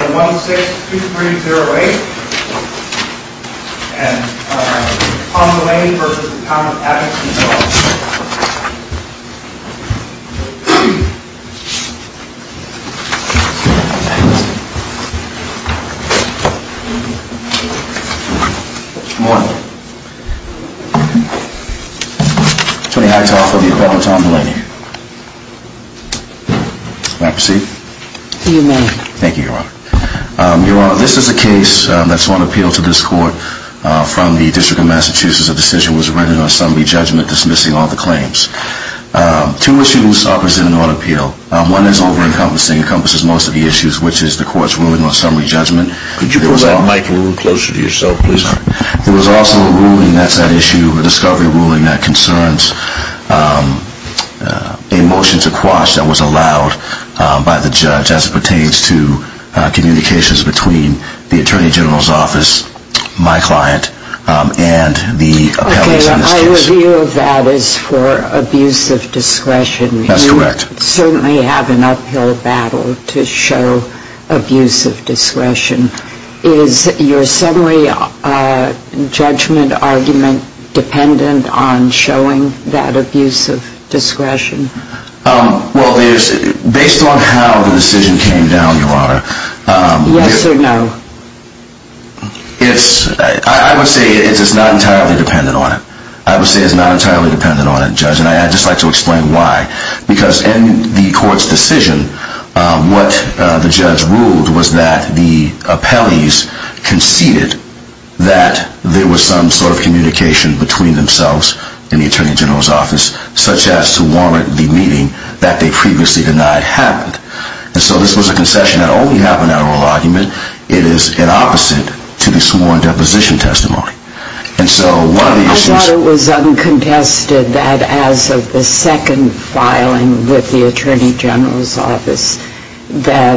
1-6-2308 and Tom Delaney v. Town of Abington, Illinois. Good morning. Tony Hightower for the event with Tom Delaney. May I proceed? You may. Thank you, Your Honor. Your Honor, this is a case that's on appeal to this court from the District of Massachusetts. A decision was written on summary judgment dismissing all the claims. Two issues are presented on appeal. One is over-encompassing, encompasses most of the issues, which is the court's ruling on summary judgment. Could you pull that mic a little closer to yourself, please? There was also a ruling that's at issue, a discovery ruling that concerns a motion to quash that was allowed by the judge as it pertains to communications between the Attorney General's office, my client, and the appellees in this case. Okay, I reveal that as for abuse of discretion. That's correct. You certainly have an uphill battle to show abuse of discretion. Is your summary judgment argument dependent on showing that abuse of discretion? Well, based on how the decision came down, Your Honor... Yes or no? I would say it's not entirely dependent on it. I would say it's not entirely dependent on it, Judge, and I'd just like to explain why. Because in the court's decision, what the judge ruled was that the appellees conceded that there was some sort of communication between themselves and the Attorney General's office, such as to warrant the meeting that they previously denied happened. And so this was a concession that only happened in oral argument. It is an opposite to the sworn deposition testimony. I thought it was uncontested that as of the second filing with the Attorney General's office, that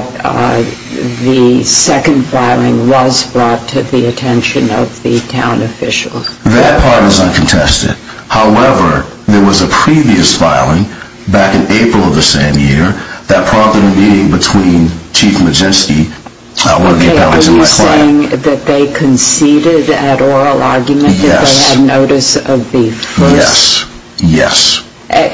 the second filing was brought to the attention of the town official. That part is uncontested. However, there was a previous filing back in April of the same year that prompted a meeting between Chief Majewski, one of the appellees, and my client. Are you saying that they conceded at oral argument that they had notice of the first? Yes. Yes.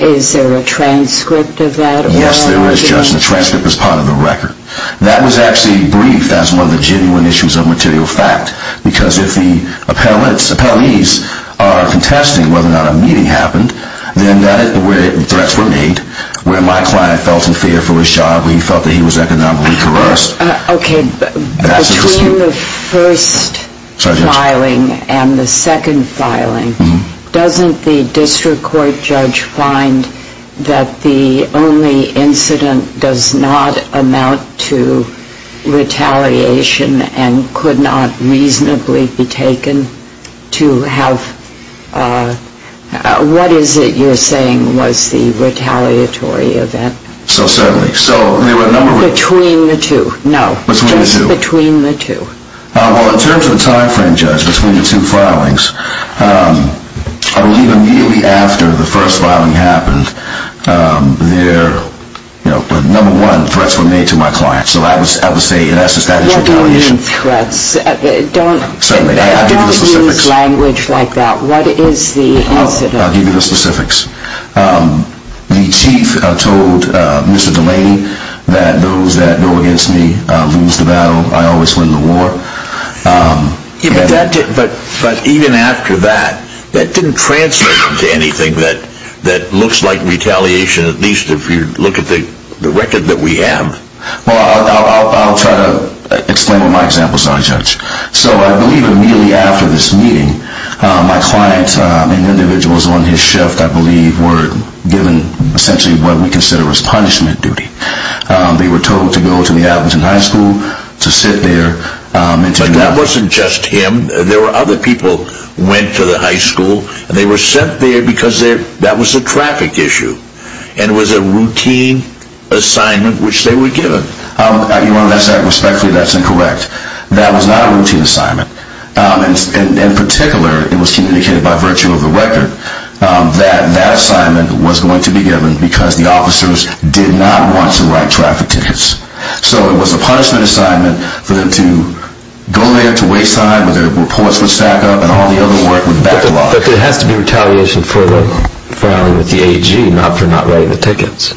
Is there a transcript of that oral argument? Yes, there is, Judge, and the transcript is part of the record. That was actually brief. That's one of the genuine issues of material fact. Because if the appellees are contesting whether or not a meeting happened, then that is where threats were made, where my client felt in fear for his child, where he felt that he was economically coerced. Okay. Between the first filing and the second filing, doesn't the district court judge find that the only incident does not amount to retaliation and could not reasonably be taken to have... What is it you're saying was the retaliatory event? So certainly. So there were a number of... Between the two. No. Just between the two. Well, in terms of the time frame, Judge, between the two filings, I believe immediately after the first filing happened, the number one, threats were made to my client. So I would say that's a statutory retaliation. What do you mean threats? Don't use language like that. What is the incident? I'll give you the specifics. The chief told Mr. Delaney that those that go against me lose the battle. I always win the war. But even after that, that didn't translate into anything that looks like retaliation, at least if you look at the record that we have. Well, I'll try to explain with my example. Sorry, Judge. So I believe immediately after this meeting, my client, an individual, who was on his shift, I believe, were given essentially what we consider as punishment duty. They were told to go to the Abingdon High School, to sit there and to... But that wasn't just him. There were other people who went to the high school. They were sent there because that was a traffic issue and it was a routine assignment which they were given. Your Honor, respectfully, that's incorrect. That was not a routine assignment. In particular, it was communicated by virtue of the record that that assignment was going to be given because the officers did not want to write traffic tickets. So it was a punishment assignment for them to go there to wayside where their reports would stack up and all the other work would be backlogged. But there has to be retaliation for them filing with the AG, not for not writing the tickets.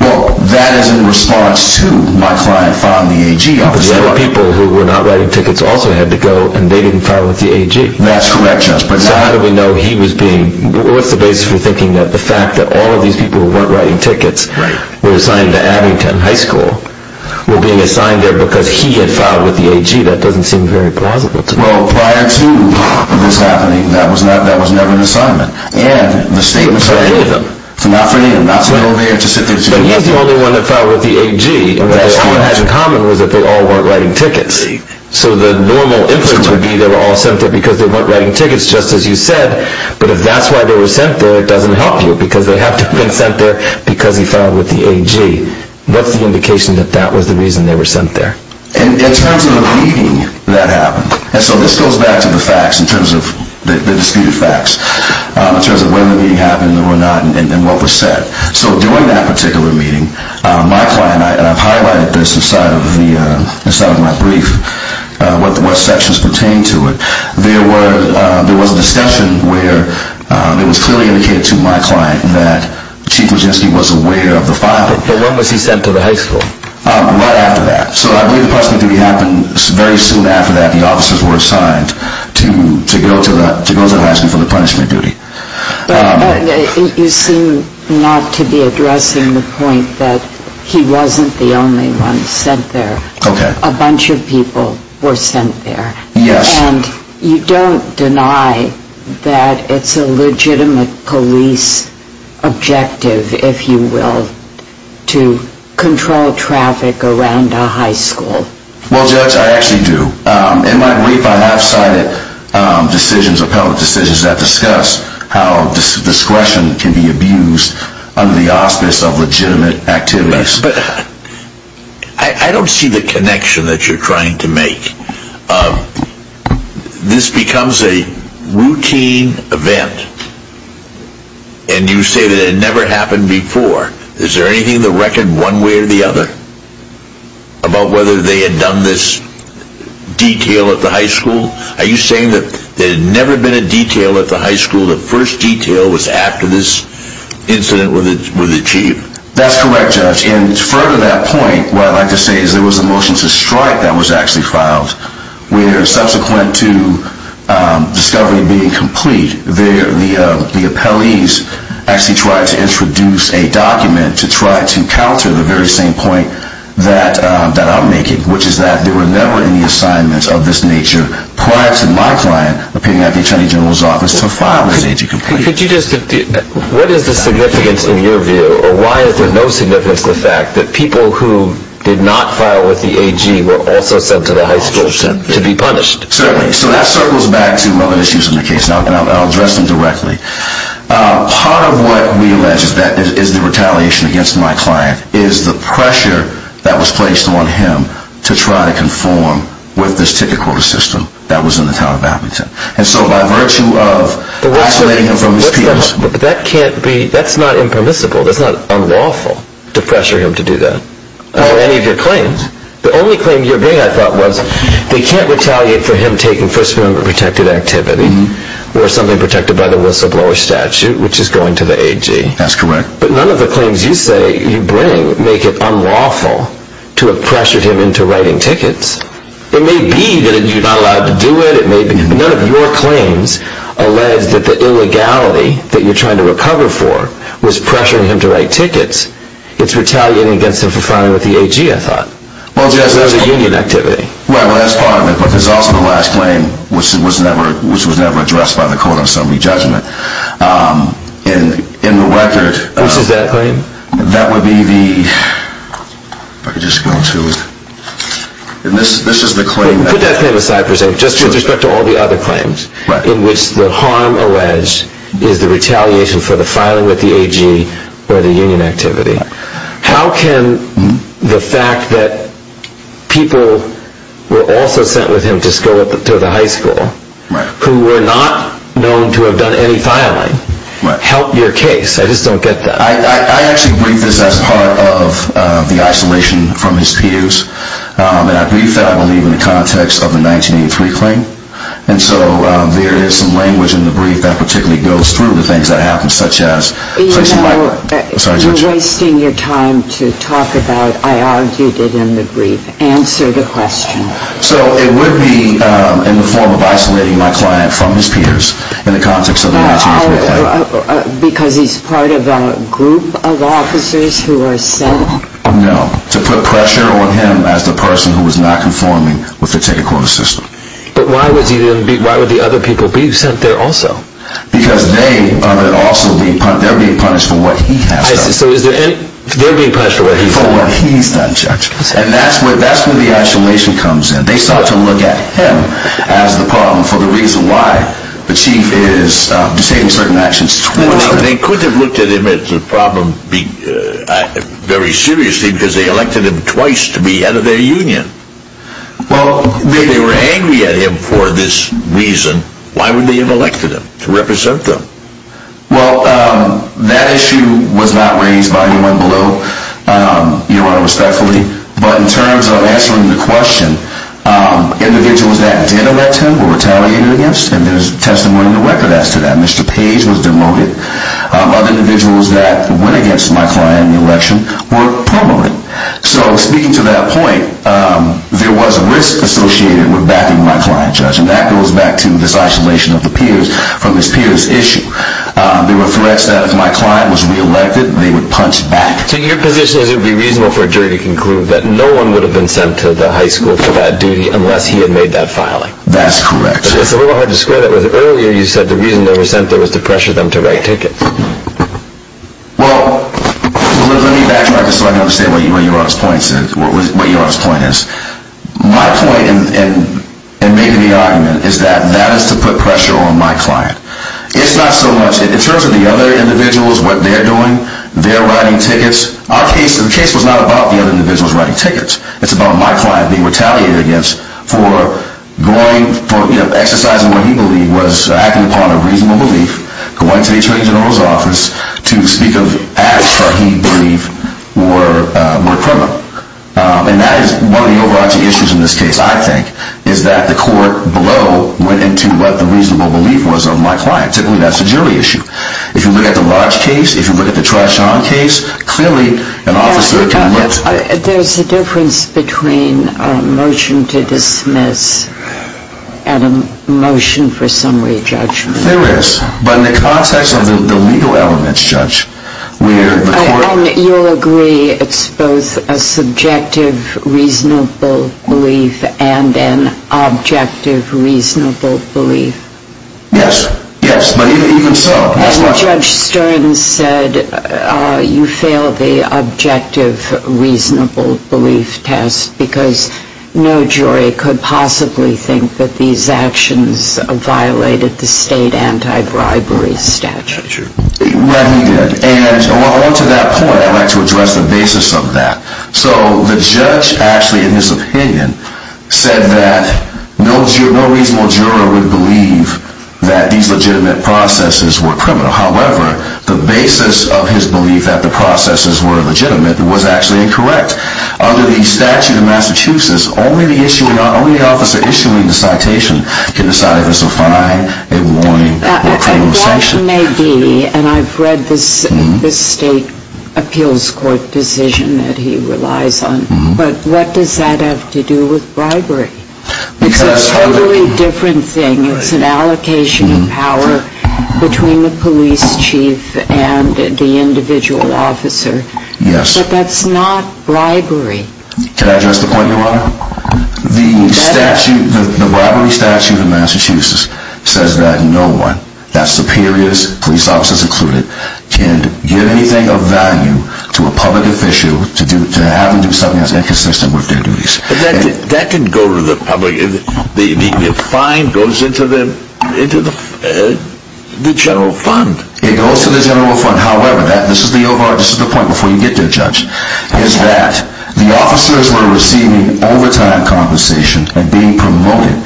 Well, that is in response to my client filing the AG. But the other people who were not writing tickets also had to go and they didn't file with the AG. That's correct, Your Honor. So how do we know he was being... What's the basis for thinking that the fact that all of these people who weren't writing tickets were assigned to Abingdon High School were being assigned there because he had filed with the AG? That doesn't seem very plausible to me. Well, prior to this happening, that was never an assignment. And the state was saying... It's not for any of them. It's not for any of them. Not to go there, to sit there... But he's the only one that filed with the AG. What they all had in common was that they all weren't writing tickets. So the normal inference would be they were all sent there because they weren't writing tickets, just as you said, but if that's why they were sent there, it doesn't help you because they have to have been sent there because he filed with the AG. What's the indication that that was the reason they were sent there? In terms of the meeting that happened, and so this goes back to the facts, in terms of the disputed facts, in terms of when the meeting happened and what was said. So during that particular meeting, my client, and I've highlighted this inside of my brief, what sections pertain to it, there was a discussion where it was clearly indicated to my client that Chief Wojcicki was aware of the filing. But when was he sent to the high school? Right after that. So I believe the punishment duty happened very soon after that. The officers were assigned to go to the high school for the punishment duty. But you seem not to be addressing the point that he wasn't the only one sent there. Okay. A bunch of people were sent there. Yes. And you don't deny that it's a legitimate police objective, if you will, to control traffic around a high school. Well, Judge, I actually do. In my brief, I have cited decisions, appellate decisions, that discuss how discretion can be abused under the auspice of legitimate activities. But I don't see the connection that you're trying to make. This becomes a routine event, and you say that it never happened before. Is there anything in the record, one way or the other, about whether they had done this detail at the high school? Are you saying that there had never been a detail at the high school? The first detail was after this incident with the Chief? That's correct, Judge. And further to that point, what I'd like to say is there was a motion to strike that was actually filed, where subsequent to discovery being complete, the appellees actually tried to introduce a document to try to counter the very same point that I'm making, which is that there were never any assignments of this nature prior to my client appearing at the Attorney General's office to file this AG complaint. What is the significance in your view, or why is there no significance to the fact that people who did not file with the AG were also sent to the high school to be punished? Certainly. So that circles back to other issues in the case, and I'll address them directly. Part of what we allege is the retaliation against my client is the pressure that was placed on him to try to conform with this ticket quota system that was in the town of Appleton. And so by virtue of isolating him from his peers... But that can't be, that's not impermissible. That's not unlawful to pressure him to do that, or any of your claims. The only claim you bring, I thought, was they can't retaliate for him taking First Amendment-protected activity, or something protected by the whistleblower statute, which is going to the AG. That's correct. But none of the claims you say you bring make it unlawful to have pressured him into writing tickets. It may be that you're not allowed to do it, it may be... None of your claims allege that the illegality that you're trying to recover for was pressuring him to write tickets. It's retaliating against him for filing with the AG, I thought, or the union activity. Well, that's part of it, but there's also the last claim, which was never addressed by the court on summary judgment. In the record... Which is that claim? That would be the... If I could just go to... This is the claim that... Put that claim aside for a second, just with respect to all the other claims, in which the harm alleged is the retaliation for the filing with the AG or the union activity. How can the fact that people were also sent with him to school, to the high school, who were not known to have done any filing, help your case? I just don't get that. I actually briefed this as part of the isolation from his peers, and I briefed that, I believe, in the context of the 1983 claim. And so there is some language in the brief that particularly goes through the things that happened, such as... You know, you're wasting your time to talk about, I argued it in the brief. Answer the question. So it would be in the form of isolating my client from his peers in the context of the 1983 claim. Because he's part of a group of officers who are sent? No, to put pressure on him as the person who was not conforming with the ticket quota system. But why would the other people be sent there also? Because they are being punished for what he has done. So they're being punished for what he's done? For what he's done, Judge. And that's where the isolation comes in. They sought to look at him as the problem for the reason why the Chief is disabling certain actions towards him. They could have looked at him as a problem very seriously because they elected him twice to be head of their union. Well, if they were angry at him for this reason, why would they have elected him to represent them? Well, that issue was not raised by anyone below, Your Honor, respectfully. But in terms of answering the question, individuals that did elect him were retaliated against. And there's testimony in the record as to that. Mr. Page was demoted. Other individuals that went against my client in the election were promoted. So speaking to that point, there was a risk associated with backing my client, Judge. And that goes back to this isolation of the peers from this peers issue. There were threats that if my client was re-elected, they would punch back. So your position is it would be reasonable for a jury to conclude that no one would have been sent to the high school for that duty unless he had made that filing? That's correct. But it's a little hard to square that with earlier you said the reason they were sent there was to pressure them to write tickets. Well, let me backtrack just so I can understand what Your Honor's point is. My point in making the argument is that that is to put pressure on my client. It's not so much in terms of the other individuals, what they're doing, they're writing tickets. Our case, the case was not about the other individuals writing tickets. It's about my client being retaliated against for going, for exercising what he believed was acting upon a reasonable belief, going to the Attorney General's office to speak of acts that he believed were criminal. And that is one of the overarching issues in this case, I think, is that the court below went into what the reasonable belief was of my client. Typically, that's a jury issue. If you look at the large case, if you look at the Trichon case, clearly an officer can look at it. There's a difference between a motion to dismiss and a motion for summary judgment. There is, but in the context of the legal elements, Judge, where the court- And you'll agree it's both a subjective reasonable belief and an objective reasonable belief? Yes, yes, but even so- And Judge Stern said you failed the objective reasonable belief test because no jury could possibly think that these actions violated the state anti-bribery statute. Well, he did, and to that point, I'd like to address the basis of that. So the judge actually, in his opinion, said that no reasonable juror would believe that these legitimate processes were criminal. However, the basis of his belief that the processes were legitimate was actually incorrect. Under the statute of Massachusetts, only the officer issuing the citation can decide if it's a fine, a warning, or a criminal sanction. A blot may be, and I've read this state appeals court decision that he relies on, but what does that have to do with bribery? Because- It's a totally different thing. It's an allocation of power between the police chief and the individual officer. Yes. But that's not bribery. Can I address the point, Your Honor? The statute, the bribery statute of Massachusetts says that no one, that's superiors, police officers included, can give anything of value to a public official to have them do something that's inconsistent with their duties. But that can go to the public, the fine goes into the general fund. It goes to the general fund. However, this is the point before you get there, Judge, is that the officers were receiving overtime compensation and being promoted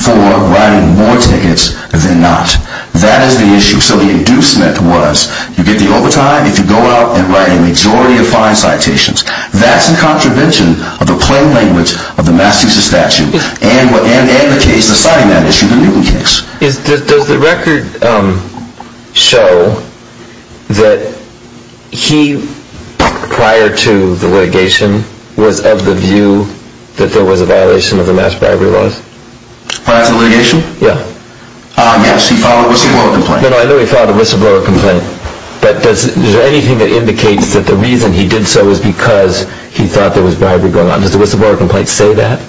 for writing more tickets than not. That is the issue. So the inducement was you get the overtime if you go out and write a majority of fine citations. That's in contravention of the plain language of the Massachusetts statute and the case, the citing that issue, the Newton case. Does the record show that he, prior to the litigation, was of the view that there was a violation of the mass bribery laws? Prior to the litigation? Yeah. Yes, he filed a whistleblower complaint. No, no, I know he filed a whistleblower complaint. But is there anything that indicates that the reason he did so was because he thought there was bribery going on? Does the whistleblower complaint say that?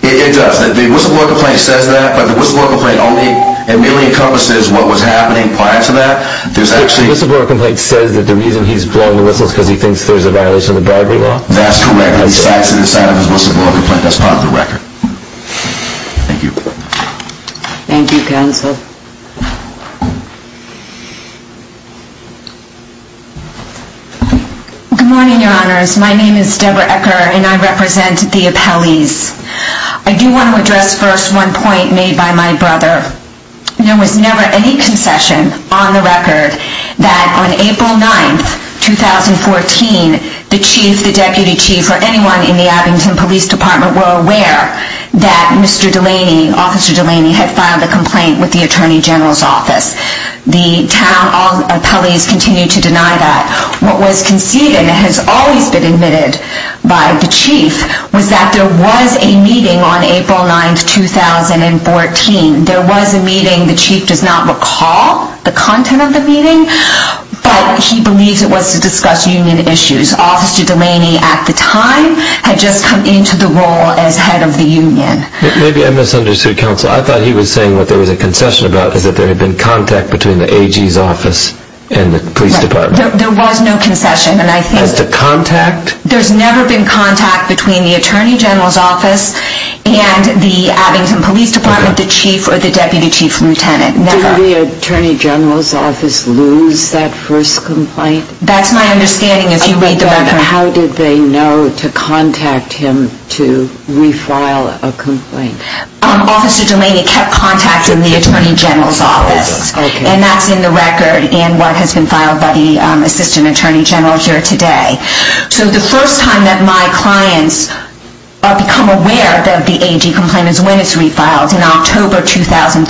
It does. The whistleblower complaint says that, but the whistleblower complaint only really encompasses what was happening prior to that. The whistleblower complaint says that the reason he's blowing the whistle is because he thinks there's a violation of the bribery law? That's correct. He cites it inside of his whistleblower complaint. That's part of the record. Thank you, counsel. Good morning, your honors. My name is Debra Ecker, and I represent the appellees. I do want to address first one point made by my brother. There was never any concession on the record that on April 9, 2014, the chief, the deputy chief, or anyone in the Abington Police Department were aware that Mr. Delaney, Officer Delaney, had filed a complaint with the Attorney General's office. The town appellees continue to deny that. What was conceded and has always been admitted by the chief was that there was a meeting on April 9, 2014. There was a meeting. The chief does not recall the content of the meeting, but he believes it was to discuss union issues. Officer Delaney, at the time, had just come into the role as head of the union. Maybe I misunderstood, counsel. I thought he was saying what there was a concession about is that there had been contact between the AG's office and the police department. There was no concession. As to contact? There's never been contact between the Attorney General's office and the Abington Police Department, the chief or the deputy chief lieutenant. Did the Attorney General's office lose that first complaint? That's my understanding as you read the record. How did they know to contact him to refile a complaint? Officer Delaney kept contact in the Attorney General's office. And that's in the record and what has been filed by the Assistant Attorney General here today. So the first time that my clients become aware that the AG complaint is when it's refiled, in October 2014,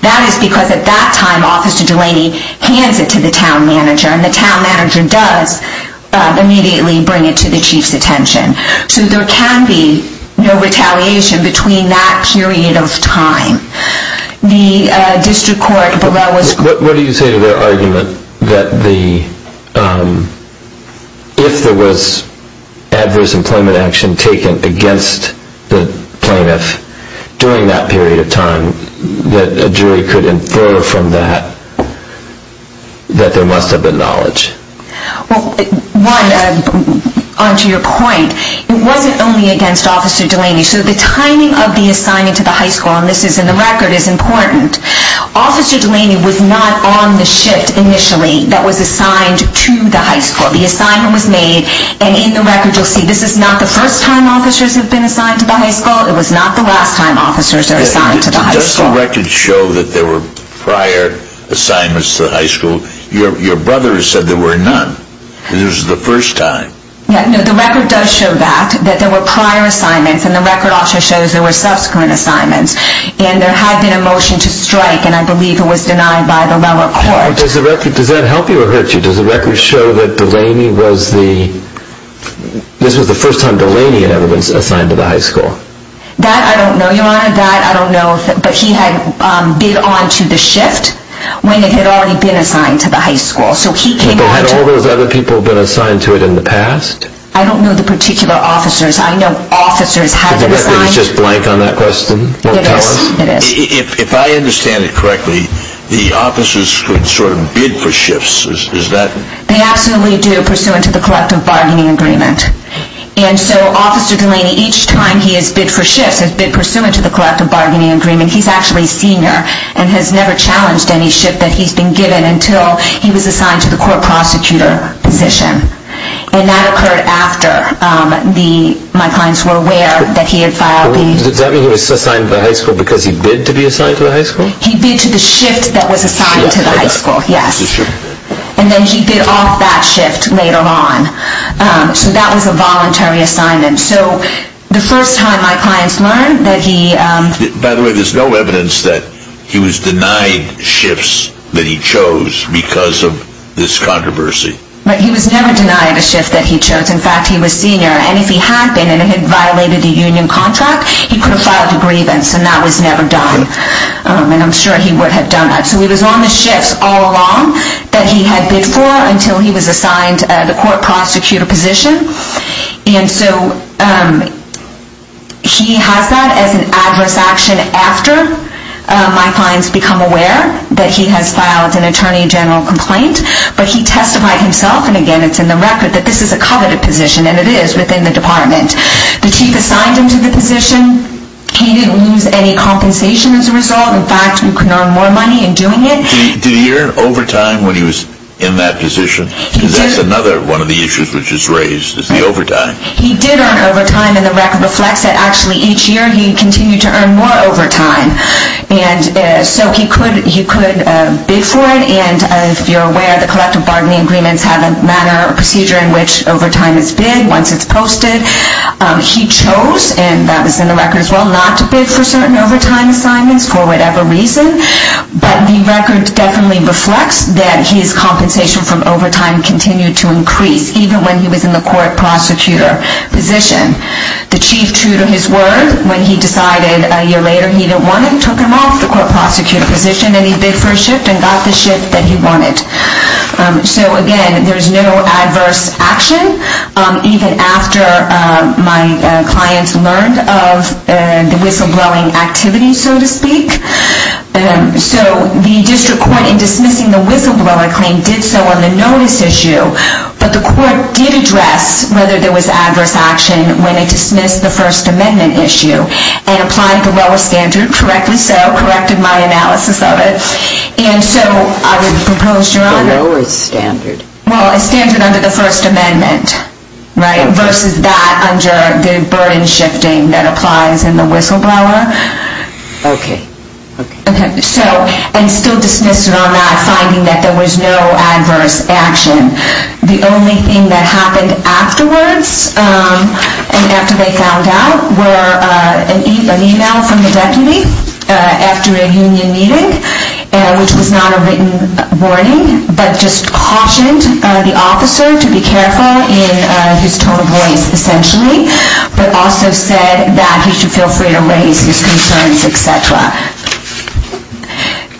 that is because at that time, Officer Delaney hands it to the town manager, and the town manager does immediately bring it to the chief's attention. So there can be no retaliation between that period of time. The district court below us... What do you say to their argument that if there was adverse employment action taken against the plaintiff during that period of time, that a jury could infer from that that there must have been knowledge? Well, one, on to your point, it wasn't only against Officer Delaney. So the timing of the assignment to the high school, and this is in the record, is important. Officer Delaney was not on the shift initially that was assigned to the high school. The assignment was made, and in the record you'll see this is not the first time officers have been assigned to the high school. It was not the last time officers are assigned to the high school. Does the record show that there were prior assignments to the high school? Your brother said there were none, and this was the first time. The record does show that, that there were prior assignments, and the record also shows there were subsequent assignments. And there had been a motion to strike, and I believe it was denied by the lower court. Does that help you or hurt you? Does the record show that this was the first time Delaney had ever been assigned to the high school? That I don't know, Your Honor. But he had bid on to the shift when it had already been assigned to the high school. But had all those other people been assigned to it in the past? I don't know the particular officers. I know officers have been assigned. The record is just blank on that question? It is, it is. If I understand it correctly, the officers could sort of bid for shifts, is that? They absolutely do, pursuant to the collective bargaining agreement. And so Officer Delaney, each time he has bid for shifts, has bid pursuant to the collective bargaining agreement, he's actually senior and has never challenged any shift that he's been given until he was assigned to the court prosecutor position. And that occurred after my clients were aware that he had filed the... Does that mean he was assigned to the high school because he bid to be assigned to the high school? He bid to the shift that was assigned to the high school, yes. And then he bid off that shift later on. So that was a voluntary assignment. So the first time my clients learned that he... By the way, there's no evidence that he was denied shifts that he chose because of this controversy. He was never denied a shift that he chose. In fact, he was senior. And if he had been and it had violated the union contract, he could have filed a grievance. And that was never done. And I'm sure he would have done that. So he was on the shifts all along that he had bid for until he was assigned the court prosecutor position. And so he has that as an adverse action after my clients become aware that he has filed an attorney general complaint. But he testified himself, and again, it's in the record, that this is a coveted position, and it is within the department. The chief assigned him to the position. In fact, you can earn more money in doing it. Did he earn overtime when he was in that position? Because that's another one of the issues which is raised is the overtime. He did earn overtime, and the record reflects that actually each year he continued to earn more overtime. And so he could bid for it. And if you're aware, the collective bargaining agreements have a procedure in which overtime is bid once it's posted. He chose, and that was in the record as well, not to bid for certain overtime assignments for whatever reason. But the record definitely reflects that his compensation from overtime continued to increase, even when he was in the court prosecutor position. The chief, true to his word, when he decided a year later he didn't want him, took him off the court prosecutor position, and he bid for a shift and got the shift that he wanted. So again, there's no adverse action, even after my clients learned of the whistleblowing activity, so to speak. So the district court in dismissing the whistleblower claim did so on the notice issue, but the court did address whether there was adverse action when it dismissed the First Amendment issue and applied the lower standard, correctly so, corrected my analysis of it. And so I would propose, Your Honor. The lower standard. Well, a standard under the First Amendment, right, versus that under the burden shifting that applies in the whistleblower. Okay. Okay. So, and still dismissed it on that, finding that there was no adverse action. The only thing that happened afterwards and after they found out were an email from the deputy after a union meeting, which was not a written warning, but just cautioned the officer to be careful in his tone of voice, essentially, but also said that he should feel free to raise his concerns, et cetera.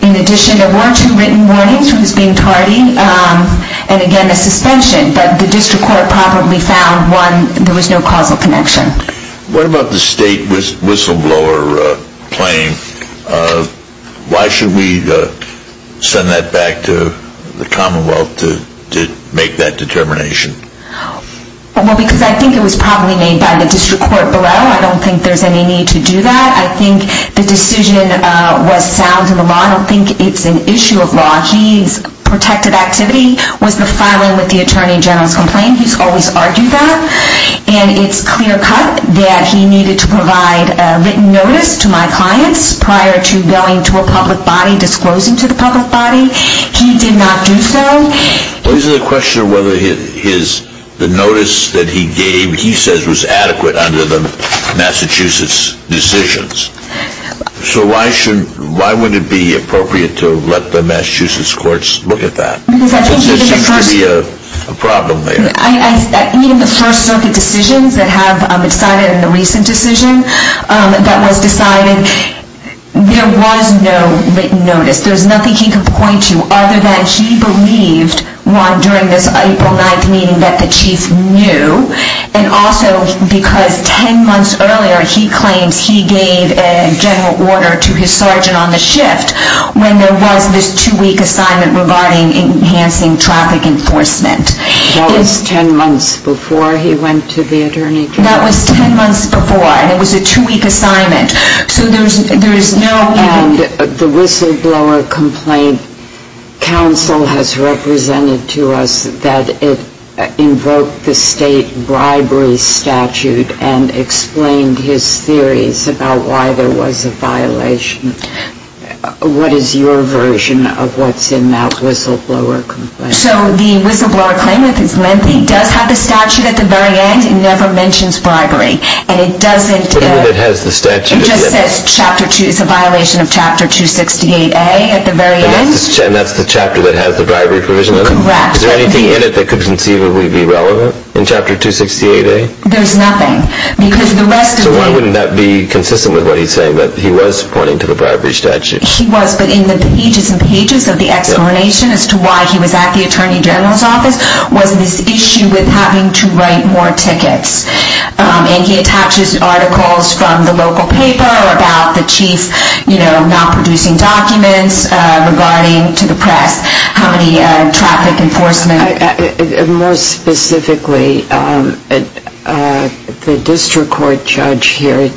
In addition, there were two written warnings, who was being tardy, and again, a suspension, but the district court probably found one, there was no causal connection. What about the state whistleblower claim? Why should we send that back to the Commonwealth to make that determination? Well, because I think it was probably made by the district court below. I don't think there's any need to do that. I think the decision was sound in the law. I don't think it's an issue of law. His protected activity was the filing with the attorney general's complaint. He's always argued that. And it's clear-cut that he needed to provide a written notice to my clients prior to going to a public body, disclosing to the public body. He did not do so. Well, is it a question of whether the notice that he gave, he says, was adequate under the Massachusetts decisions? So why would it be appropriate to let the Massachusetts courts look at that? Because I think even the first... Because there seems to be a problem there. Even the first circuit decisions that have decided in the recent decision that was decided, there was no written notice. There was nothing he could point to other than he believed, during this April 9th meeting, that the chief knew. And also because 10 months earlier he claims he gave a general order to his sergeant on the shift when there was this two-week assignment regarding enhancing traffic enforcement. That was 10 months before he went to the attorney general? That was 10 months before. And it was a two-week assignment. So there is no... And the whistleblower complaint counsel has represented to us that it invoked the state bribery statute and explained his theories about why there was a violation. What is your version of what's in that whistleblower complaint? So the whistleblower claimant is lengthy. It does have the statute at the very end. It never mentions bribery. And it doesn't... What is it that has the statute? It just says it's a violation of Chapter 268A at the very end. And that's the chapter that has the bribery provision in it? Correct. Is there anything in it that could conceivably be relevant in Chapter 268A? There's nothing. Because the rest of the... So why wouldn't that be consistent with what he's saying, that he was pointing to the bribery statute? He was, but in the pages and pages of the explanation as to why he was at the Attorney General's office was this issue with having to write more tickets. And he attaches articles from the local paper about the chief not producing documents regarding to the press, how many traffic enforcement... More specifically, the district court judge here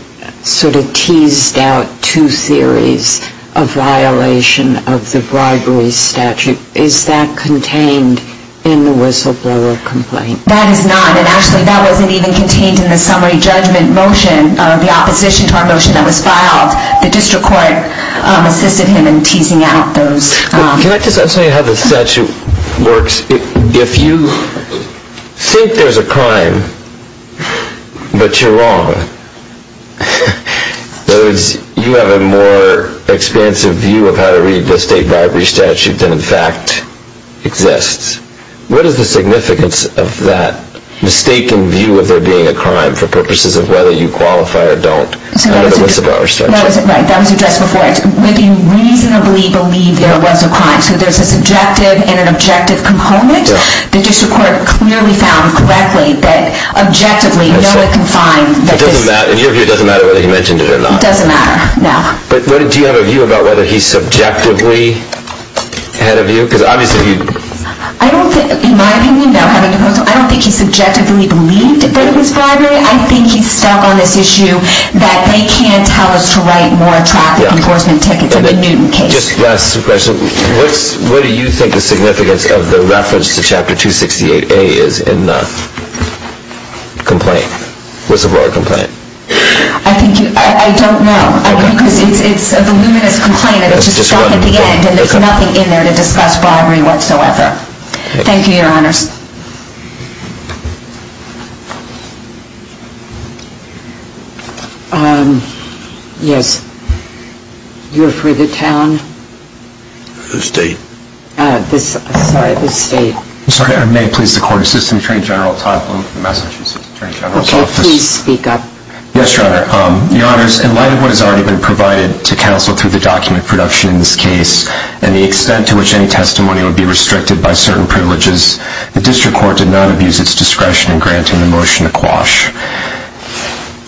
sort of teased out two theories of violation of the bribery statute. Is that contained in the whistleblower complaint? That is not. And actually, that wasn't even contained in the summary judgment motion, the opposition to our motion that was filed. The district court assisted him in teasing out those... Can I just ask how the statute works? If you think there's a crime, but you're wrong, in other words, you have a more expansive view of how to read the state bribery statute than in fact exists, what is the significance of that mistaken view of there being a crime for purposes of whether you qualify or don't under the whistleblower statute? Right. That was addressed before. We reasonably believe there was a crime. So there's a subjective and an objective component. The district court clearly found correctly that objectively no one can find... It doesn't matter. In your view, it doesn't matter whether he mentioned it or not. It doesn't matter. No. But do you have a view about whether he subjectively had a view? Because obviously he... I don't think... In my opinion, I don't think he subjectively believed that it was bribery. I think he's stuck on this issue that they can't tell us to write more traffic enforcement tickets in the Newton case. Just last question. What do you think the significance of the reference to Chapter 268A is in the complaint, whistleblower complaint? I think you... I don't know. Okay. Because it's a voluminous complaint and it's just stuck at the end and there's nothing in there to discuss bribery whatsoever. Okay. Thank you, Your Honors. Yes. You're for the town? The state. Sorry, the state. I'm sorry. May it please the Court. Assistant Attorney General Todd Bloom from Massachusetts Attorney General's Office. Okay. Please speak up. Yes, Your Honor. Your Honors, in light of what has already been provided to counsel through the document production in this case and the extent to which any testimony would be restricted by certain privileges, the District Court did not abuse its discretion in granting the motion to quash.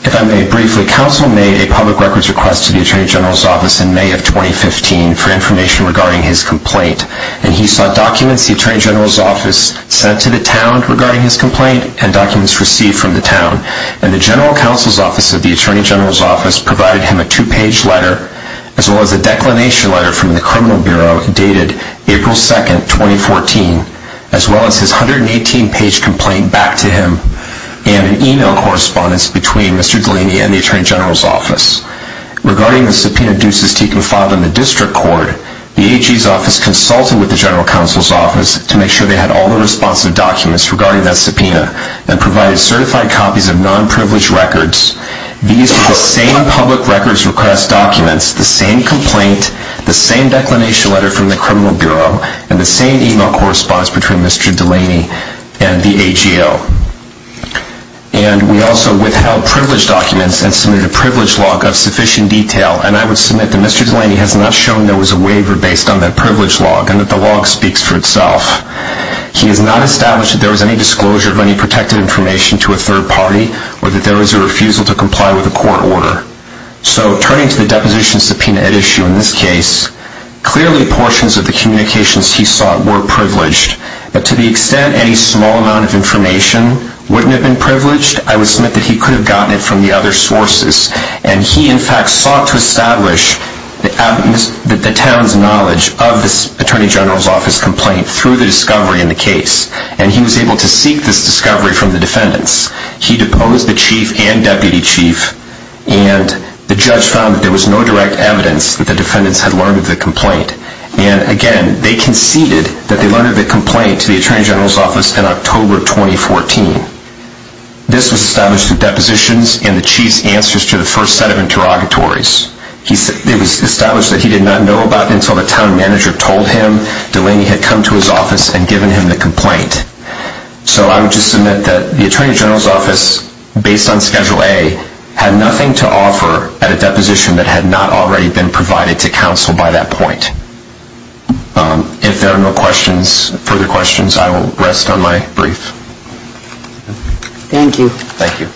If I may briefly, counsel made a public records request to the Attorney General's Office in May of 2015 for information regarding his complaint, and he sent documents the Attorney General's Office sent to the town regarding his complaint and documents received from the town. And the General Counsel's Office of the Attorney General's Office provided him a two-page letter as well as a declination letter from the Criminal Bureau dated April 2, 2014, as well as his 118-page complaint back to him and an email correspondence between Mr. Delaney and the Attorney General's Office. Regarding the subpoena Duces-Tekun filed in the District Court, the AG's Office consulted with the General Counsel's Office to make sure they had all the responsive documents regarding that subpoena and provided certified copies of non-privileged records. These were the same public records request documents, the same complaint, the same declination letter from the Criminal Bureau, and the same email correspondence between Mr. Delaney and the AGO. And we also withheld privileged documents and submitted a privileged log of sufficient detail, and I would submit that Mr. Delaney has not shown there was a waiver based on that privileged log and that the log speaks for itself. He has not established that there was any disclosure of any protected information to a third party or that there was a refusal to comply with a court order. So turning to the deposition subpoena at issue in this case, clearly portions of the communications he sought were privileged, but to the extent any small amount of information wouldn't have been privileged, I would submit that he could have gotten it from the other sources. And he, in fact, sought to establish the town's knowledge of the Attorney General's Office complaint through the discovery in the case, and he was able to seek this discovery from the defendants. He deposed the Chief and Deputy Chief, and the judge found that there was no direct evidence that the defendants had learned of the complaint. And again, they conceded that they learned of the complaint to the Attorney General's Office in October 2014. This was established through depositions and the Chief's answers to the first set of interrogatories. It was established that he did not know about it until the town manager told him Delaney had come to his office and given him the complaint. So I would just submit that the Attorney General's Office, based on Schedule A, had nothing to offer at a deposition that had not already been provided to counsel by that point. If there are no further questions, I will rest on my brief. Thank you. Thank you.